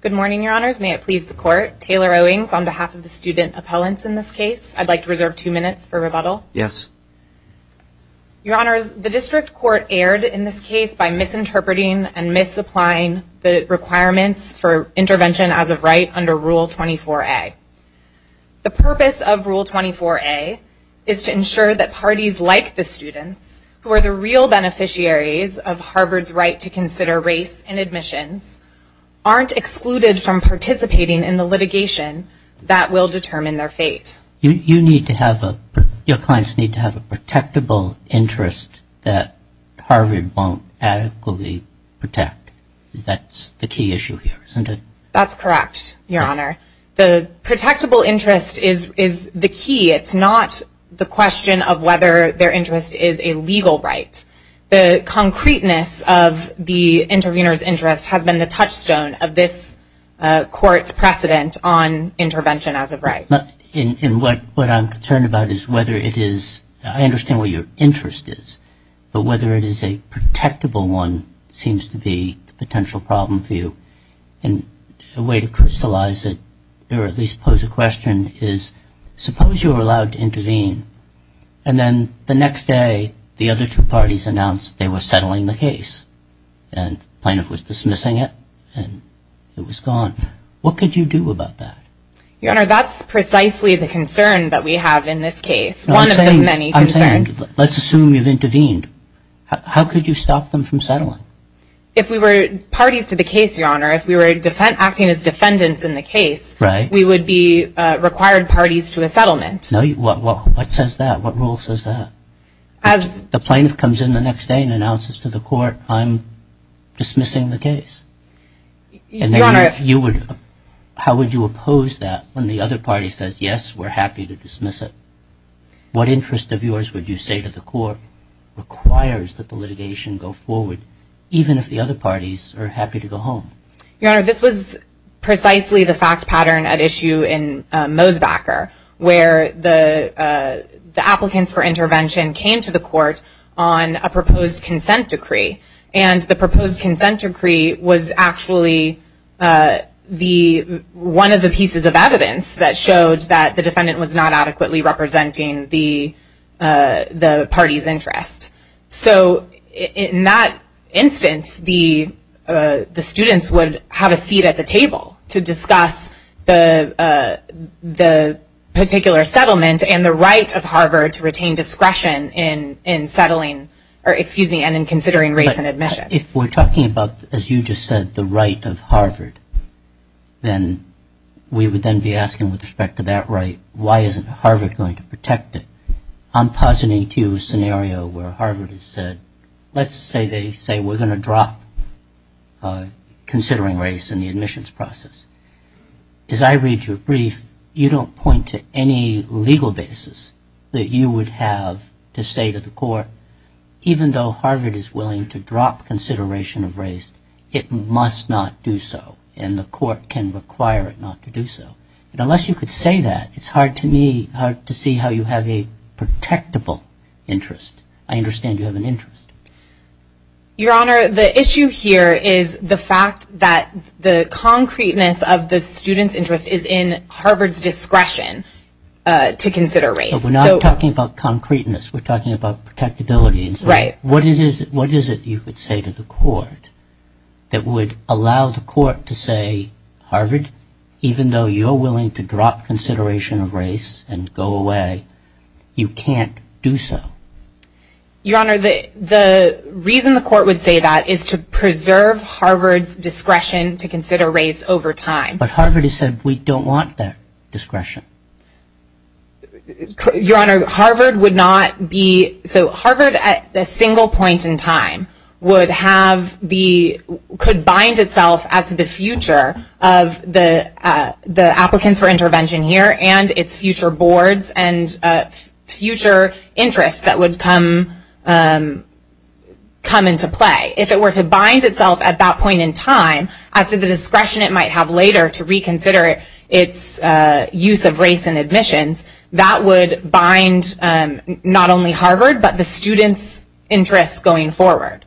Good morning, Your Honors, and may it please the Court. Taylor Owings on behalf of the student appellants in this case, I'd like to reserve two minutes for rebuttal. Yes. Your Honors, the District Court erred in this case by misinterpreting and misapplying the requirements for intervention as of right under Rule 24a. The purpose of Rule 24a is to ensure that parties like the students, who are the real beneficiaries of Harvard's right to consider race in admissions, aren't excluded from participating in the litigation that will determine their fate. You need to have a, your clients need to have a protectable interest that Harvard won't adequately protect. That's the key issue here, isn't it? That's correct, Your Honor. The protectable interest is the key. It's not the question of whether their interest is a legal right. The concreteness of the intervener's interest has been the touchstone of this Court's precedent on intervention as of right. And what I'm concerned about is whether it is, I understand what your interest is, but whether it is a protectable one seems to be the potential problem for you. And a way to crystallize it, or at least pose a question, is suppose you're allowed to intervene, and then the next day, the other two parties announced they were settling the case. And the plaintiff was dismissing it, and it was gone. What could you do about that? Your Honor, that's precisely the concern that we have in this case. One of the many concerns. I'm saying, let's assume you've intervened. How could you stop them from settling? If we were parties to the case, Your Honor, if we were acting as defendants in the case, we would be required parties to a settlement. No, what says that? What rule says that? The plaintiff comes in the next day and announces to the Court, I'm dismissing the case. And then if you would, how would you oppose that when the other party says, yes, we're happy to dismiss it? What interest of yours would you say to the Court requires that the litigation go forward, even if the other parties are happy to go home? Your Honor, this was precisely the fact pattern at issue in Mosbacher, where the applicants for intervention came to the Court on a proposed consent decree. And the proposed consent decree was actually one of the pieces of evidence that showed that the defendant was not adequately representing the party's interest. So in that instance, the students would have a seat at the table to discuss the particular settlement and the right of Harvard to retain discretion in settling, or excuse me, and in considering race and admissions. If we're talking about, as you just said, the right of Harvard, then we would then be asking with respect to that right, why isn't Harvard going to protect it? I'm positing to you a scenario where Harvard has said, let's say they say we're going to drop considering race in the admissions process. As I read your brief, you don't point to any legal basis that you would have to say to the Court, even though Harvard is willing to drop consideration of race, it must not do so. And the Court can require it not to do so. Unless you could say that, it's hard to me, hard to see how you have a protectable interest. I understand you have an interest. Your Honor, the issue here is the fact that the concreteness of the student's interest is in Harvard's discretion to consider race. But we're not talking about concreteness, we're talking about protectability. What is it you could say to the Court that would allow the Court to say, Harvard, even though you're willing to drop consideration of race and go away, you can't do so? Your Honor, the reason the Court would say that is to preserve Harvard's discretion to consider race over time. But Harvard has said we don't want that discretion. Your Honor, Harvard would not be, so Harvard at a single point in time would have the, could bind itself as the future of the applicants for intervention here and its future boards and future interests that would come into play. If it were to bind itself at that point in time, as to the discretion it might have later to reconsider its use of race in admissions, that would bind not only Harvard but the student's interests going forward.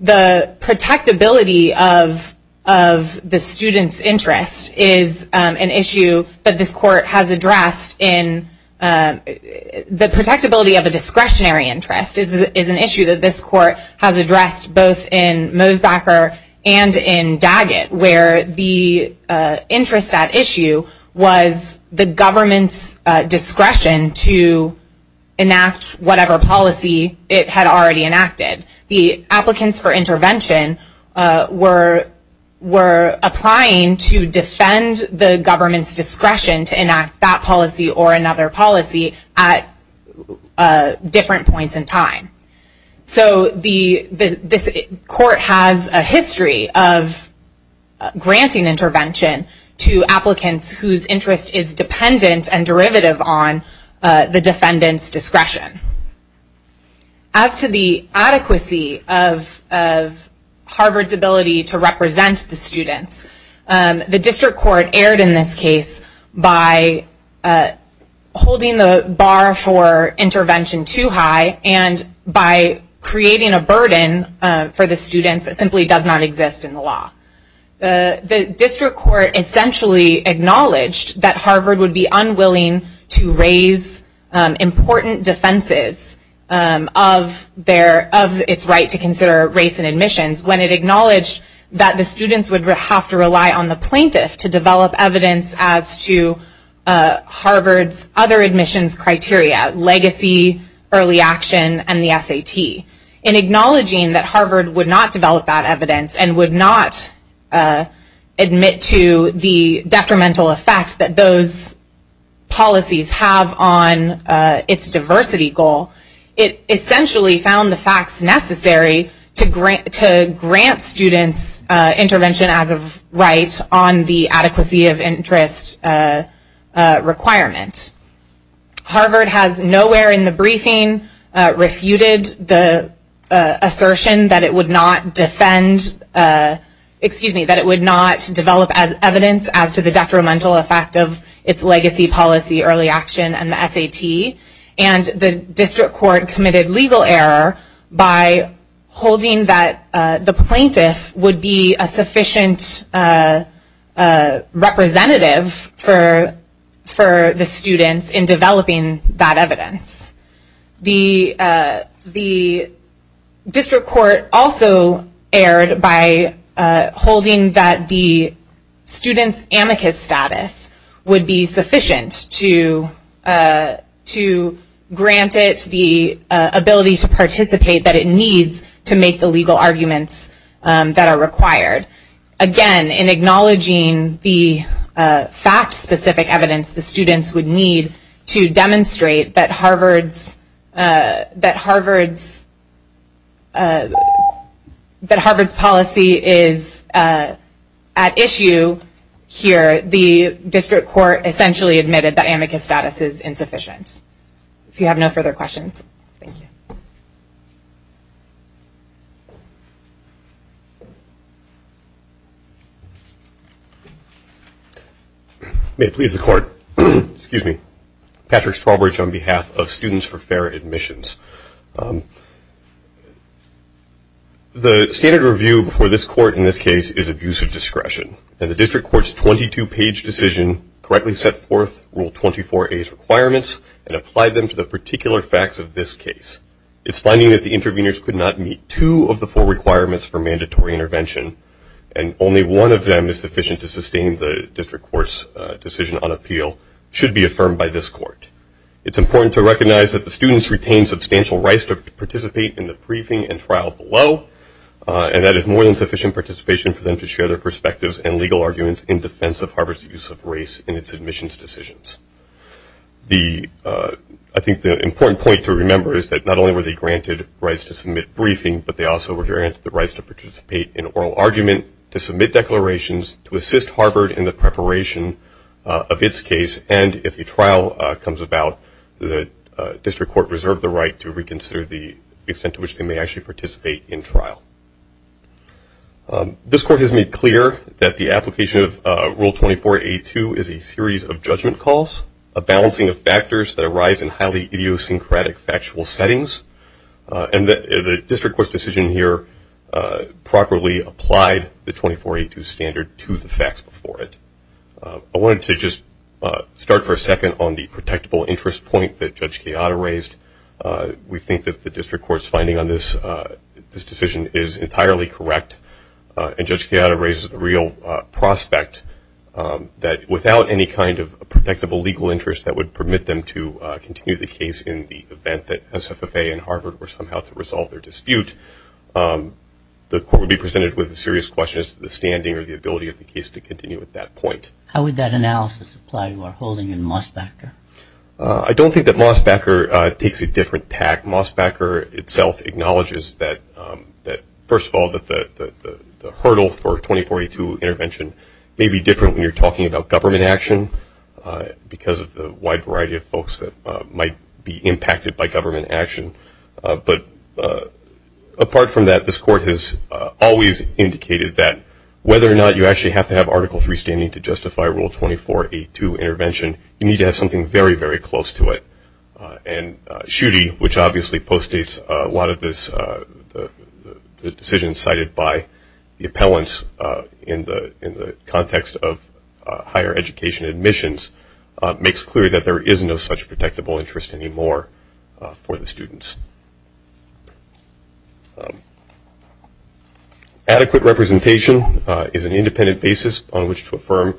The protectability of the student's interest is an issue that this Court has addressed in, the protectability of a discretionary interest is an issue that this Court has addressed both in Mosbacher and in Daggett, where the interest at issue was the government's discretion to enact whatever policy it had already enacted. The applicants for intervention were applying to defend the government's discretion to enact that policy or another policy at different points in time. So this Court has a history of granting intervention to applicants whose interest is dependent on their discretion. As to the adequacy of Harvard's ability to represent the students, the District Court erred in this case by holding the bar for intervention too high and by creating a burden for the students that simply does not exist in the law. The District Court essentially acknowledged that Harvard would be unwilling to raise important defenses of its right to consider race in admissions when it acknowledged that the students would have to rely on the plaintiff to develop evidence as to Harvard's other admissions criteria, legacy, early action, and the SAT. In acknowledging that Harvard would not develop that evidence and would not admit to the deprimental effect that those policies have on its diversity goal, it essentially found the facts necessary to grant students intervention as of right on the adequacy of interest requirement. Harvard has nowhere in the briefing refuted the assertion that it would not defend, excuse me, the deprimental effect of its legacy policy, early action, and the SAT. And the District Court committed legal error by holding that the plaintiff would be a sufficient representative for the students in developing that evidence. The District Court also erred by holding that the student's amicus status would be sufficient to grant it the ability to participate that it needs to make the legal arguments that are required. Again, in acknowledging the fact-specific evidence the students would need to demonstrate that Harvard's policy is at issue here, the District Court essentially admitted that amicus status is insufficient. If you have no further questions. Thank you. May it please the Court. Excuse me. Patrick Strawbridge on behalf of Students for Fair Admissions. The standard review before this Court in this case is abuse of discretion. And the District Court's 22-page decision correctly set forth Rule 24a's requirements and applied them to the particular facts of this case. It's finding that the interveners could not meet two of the four requirements for mandatory intervention, and only one of them is sufficient to sustain the District Court's decision on this Court. It's important to recognize that the students retain substantial rights to participate in the briefing and trial below, and that it's more than sufficient participation for them to share their perspectives and legal arguments in defense of Harvard's use of race in its admissions decisions. I think the important point to remember is that not only were they granted rights to submit briefing, but they also were granted the rights to participate in oral argument, to submit declarations, to assist Harvard in the preparation of its case, and if the comes about, the District Court reserved the right to reconsider the extent to which they may actually participate in trial. This Court has made clear that the application of Rule 24a2 is a series of judgment calls, a balancing of factors that arise in highly idiosyncratic factual settings, and the District Court's decision here properly applied the 24a2 standard to the facts before it. I wanted to just start for a second on the protectable interest point that Judge Chiata raised. We think that the District Court's finding on this decision is entirely correct, and Judge Chiata raises the real prospect that without any kind of protectable legal interest that would permit them to continue the case in the event that SFFA and Harvard were somehow to resolve their dispute, the Court would be presented with a serious question as to the standing or the ability of the case to continue at that point. How would that analysis apply to our holding in Mosbacher? I don't think that Mosbacher takes a different tack. Mosbacher itself acknowledges that, first of all, that the hurdle for 24a2 intervention may be different when you're talking about government action because of the wide variety of folks that might be impacted by government action. But apart from that, this Court has always indicated that whether or not you actually have to have Article III standing to justify Rule 24a2 intervention, you need to have something very, very close to it. And Schutte, which obviously postdates a lot of the decisions cited by the appellants in the context of higher education admissions, makes clear that there is no such protectable interest anymore for the students. Adequate representation is an independent basis on which to affirm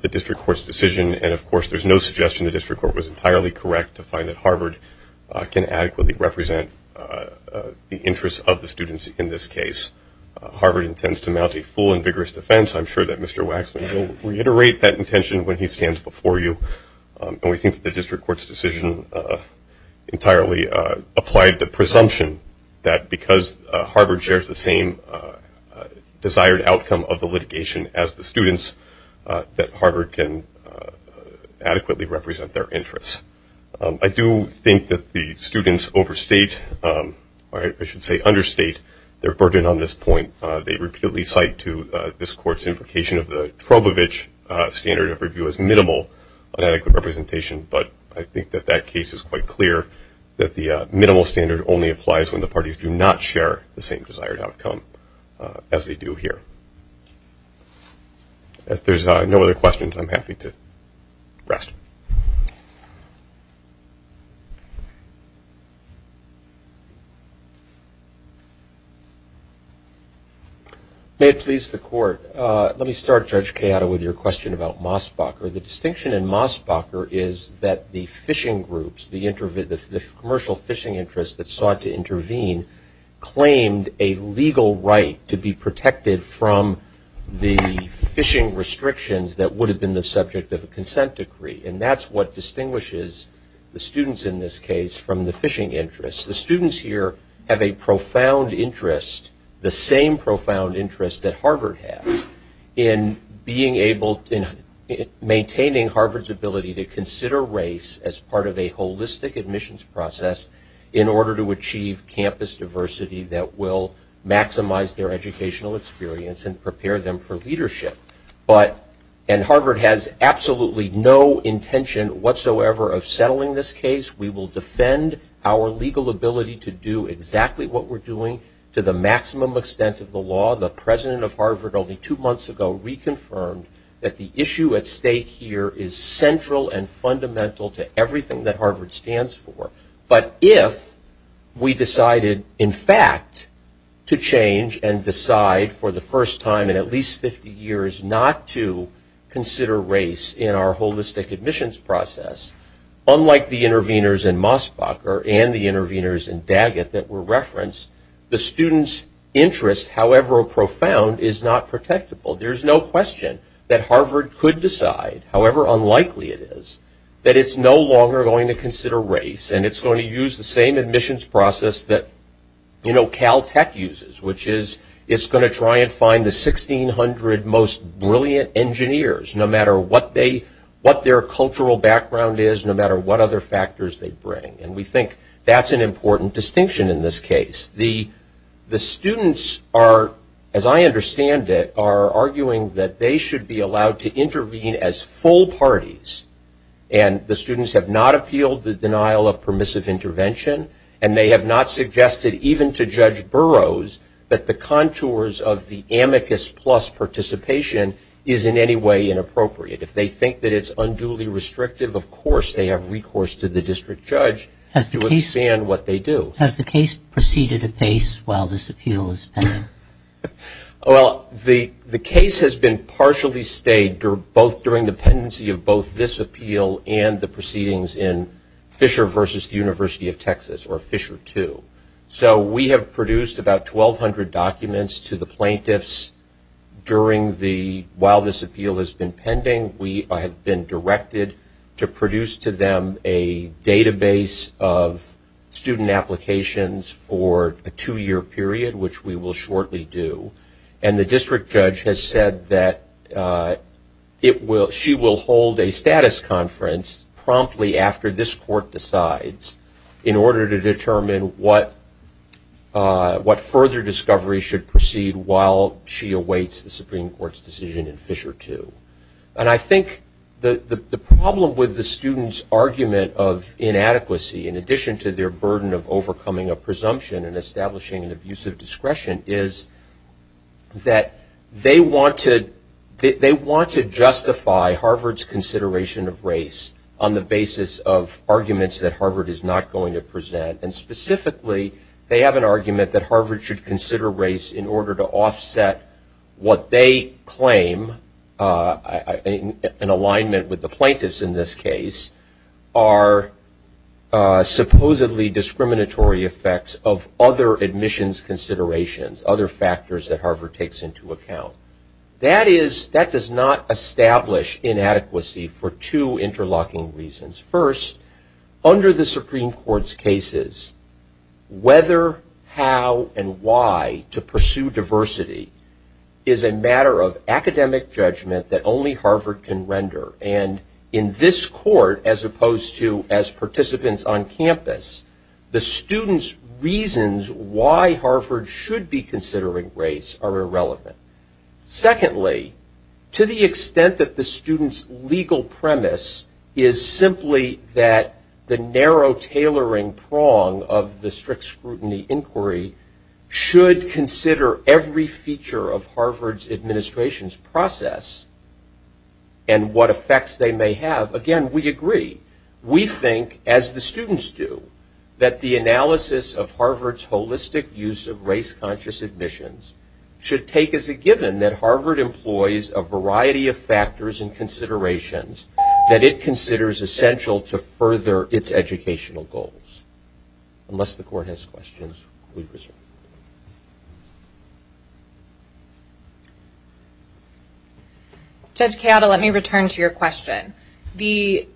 the District Court's decision. And of course, there's no suggestion the District Court was entirely correct to find that Harvard can adequately represent the interests of the students in this case. Harvard intends to mount a full and vigorous defense. I'm sure that Mr. Waxman will reiterate that intention when he stands before you. And we think that the District Court's decision entirely applied the presumption that because Harvard shares the same desired outcome of the litigation as the students, that Harvard can adequately represent their interests. I do think that the students overstate, or I should say understate, their burden on this point. They repeatedly cite to this Court's implication of the Trobovich standard of review as minimal on adequate representation. But I think that that case is quite clear, that the minimal standard only applies when the parties do not share the same desired outcome as they do here. There's no other questions. I'm happy to rest. May it please the Court. Let me start, Judge Chiodo, with your question about Mosbacher. The distinction in Mosbacher is that the fishing groups, the commercial fishing interests that sought to intervene claimed a legal right to be protected from the fishing restrictions that would have been the subject of a consent decree. And that's what distinguishes the students in this case from the fishing interests. The students here have a profound interest, the same profound interest that Harvard has in maintaining Harvard's ability to consider race as part of a holistic admissions process in order to achieve campus diversity that will maximize their educational experience and prepare them for leadership. And Harvard has absolutely no intention whatsoever of settling this case. We will defend our legal ability to do exactly what we're doing to the maximum extent of the law. The president of Harvard only two months ago reconfirmed that the issue at stake here is central and fundamental to everything that Harvard stands for. But if we decided, in fact, to change and decide for the first time in at least 50 years not to consider race in our holistic admissions process, unlike the interveners in Mosbacher and the interveners in Daggett that were referenced, the students' interest, however profound, is not protectable. There's no question that Harvard could decide, however unlikely it is, that it's no longer going to consider race. And it's going to use the same admissions process that Caltech uses, which is it's going to try and find the 1,600 most brilliant engineers, no matter what their cultural background is, no matter what other factors they bring. And we think that's an important distinction in this case. The students are, as I understand it, are arguing that they should be allowed to intervene as full parties. And the students have not appealed the denial of permissive intervention. And they have not suggested, even to Judge Burroughs, that the contours of the amicus plus participation is in any way inappropriate. If they think that it's unduly restrictive, of course they have recourse to the district judge to expand what they do. Has the case proceeded at pace while this appeal is pending? Well, the case has been partially stayed during the pendency of both this appeal and the proceedings in Fisher versus the University of Texas, or Fisher II. So we have produced about 1,200 documents to the plaintiffs while this appeal has been pending. We have been directed to produce to them a database of student applications for a two-year period, which we will shortly do. And the district judge has said that she will hold a status conference promptly after this court decides in order to determine what further discovery should proceed while she awaits the Supreme Court's decision in Fisher II. And I think the problem with the students' argument of inadequacy, in addition to their burden of overcoming a presumption and establishing an abusive discretion, is that they want to justify Harvard's consideration of race on the basis of arguments that Harvard is not going to present. And specifically, they have an argument that Harvard should consider race in order to offset what they claim, in alignment with the plaintiffs in this case, are supposedly discriminatory effects of other admissions considerations, other factors that Harvard takes into account. That does not establish inadequacy for two interlocking reasons. First, under the Supreme Court's cases, whether, how, and why to pursue diversity is a matter of academic judgment that only Harvard can render. And in this court, as opposed to as participants on campus, the students' reasons why Harvard should be considering race are irrelevant. Secondly, to the extent that the students' legal premise is simply that the narrow tailoring prong of the strict scrutiny inquiry should consider every feature of Harvard's administration's process and what effects they may have, again, we agree. We think, as the students do, that the analysis of Harvard's holistic use of race-conscious admissions should take as a given that Harvard employs a variety of factors and considerations that it considers essential to further its educational goals. Unless the court has questions, we reserve the floor. Judge Chiodo, let me return to your question. The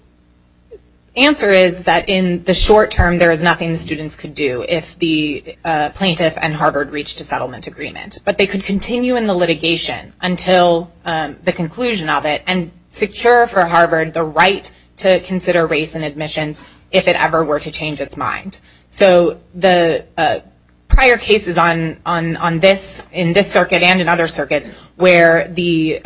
answer is that in the short term, there is nothing the students could do if the plaintiff and Harvard reached a settlement agreement. But they could continue in the litigation until the conclusion of it and secure for Harvard the right to consider race in admissions if it ever were to change its mind. So the prior cases in this circuit and in other circuits where the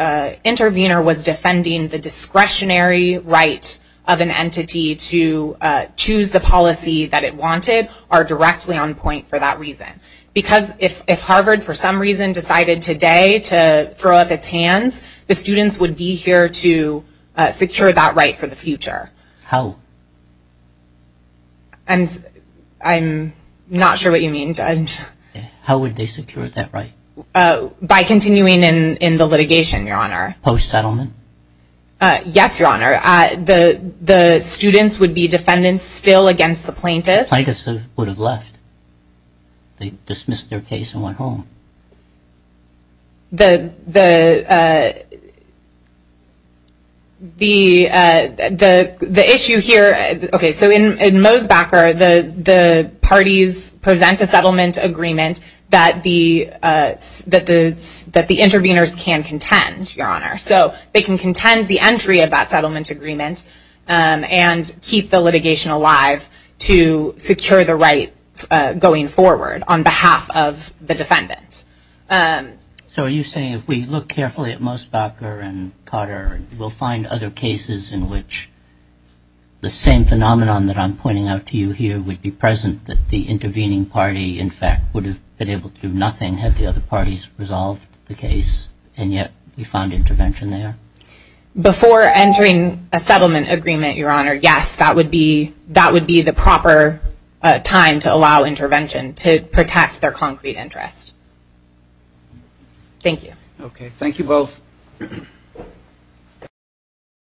intervener was defending the discretionary right of an entity to choose the policy that it wanted are directly on point for that reason. If Harvard, for some reason, decided today to throw up its hands, the students would be here to secure that right for the future. How? I'm not sure what you mean, Judge. How would they secure that right? By continuing in the litigation, Your Honor. Post-settlement? Yes, Your Honor. The students would be defendants still against the plaintiffs. Plaintiffs would have left. They dismissed their case and went home. The issue here, OK, so in Mosbacher, the parties present a settlement agreement that the interveners can contend, Your Honor. So they can contend the entry of that settlement agreement and keep the litigation alive to secure the right going forward on behalf of the defendant. So are you saying if we look carefully at Mosbacher and Cotter, we'll find other cases in which the same phenomenon that I'm pointing out to you here would be present, that the intervening party, in fact, would have been able to do nothing had the other parties resolved the case, and yet we found intervention there? Before entering a settlement agreement, Your Honor, yes, that would be the proper time to allow intervention to protect their concrete interest. Thank you. OK, thank you both.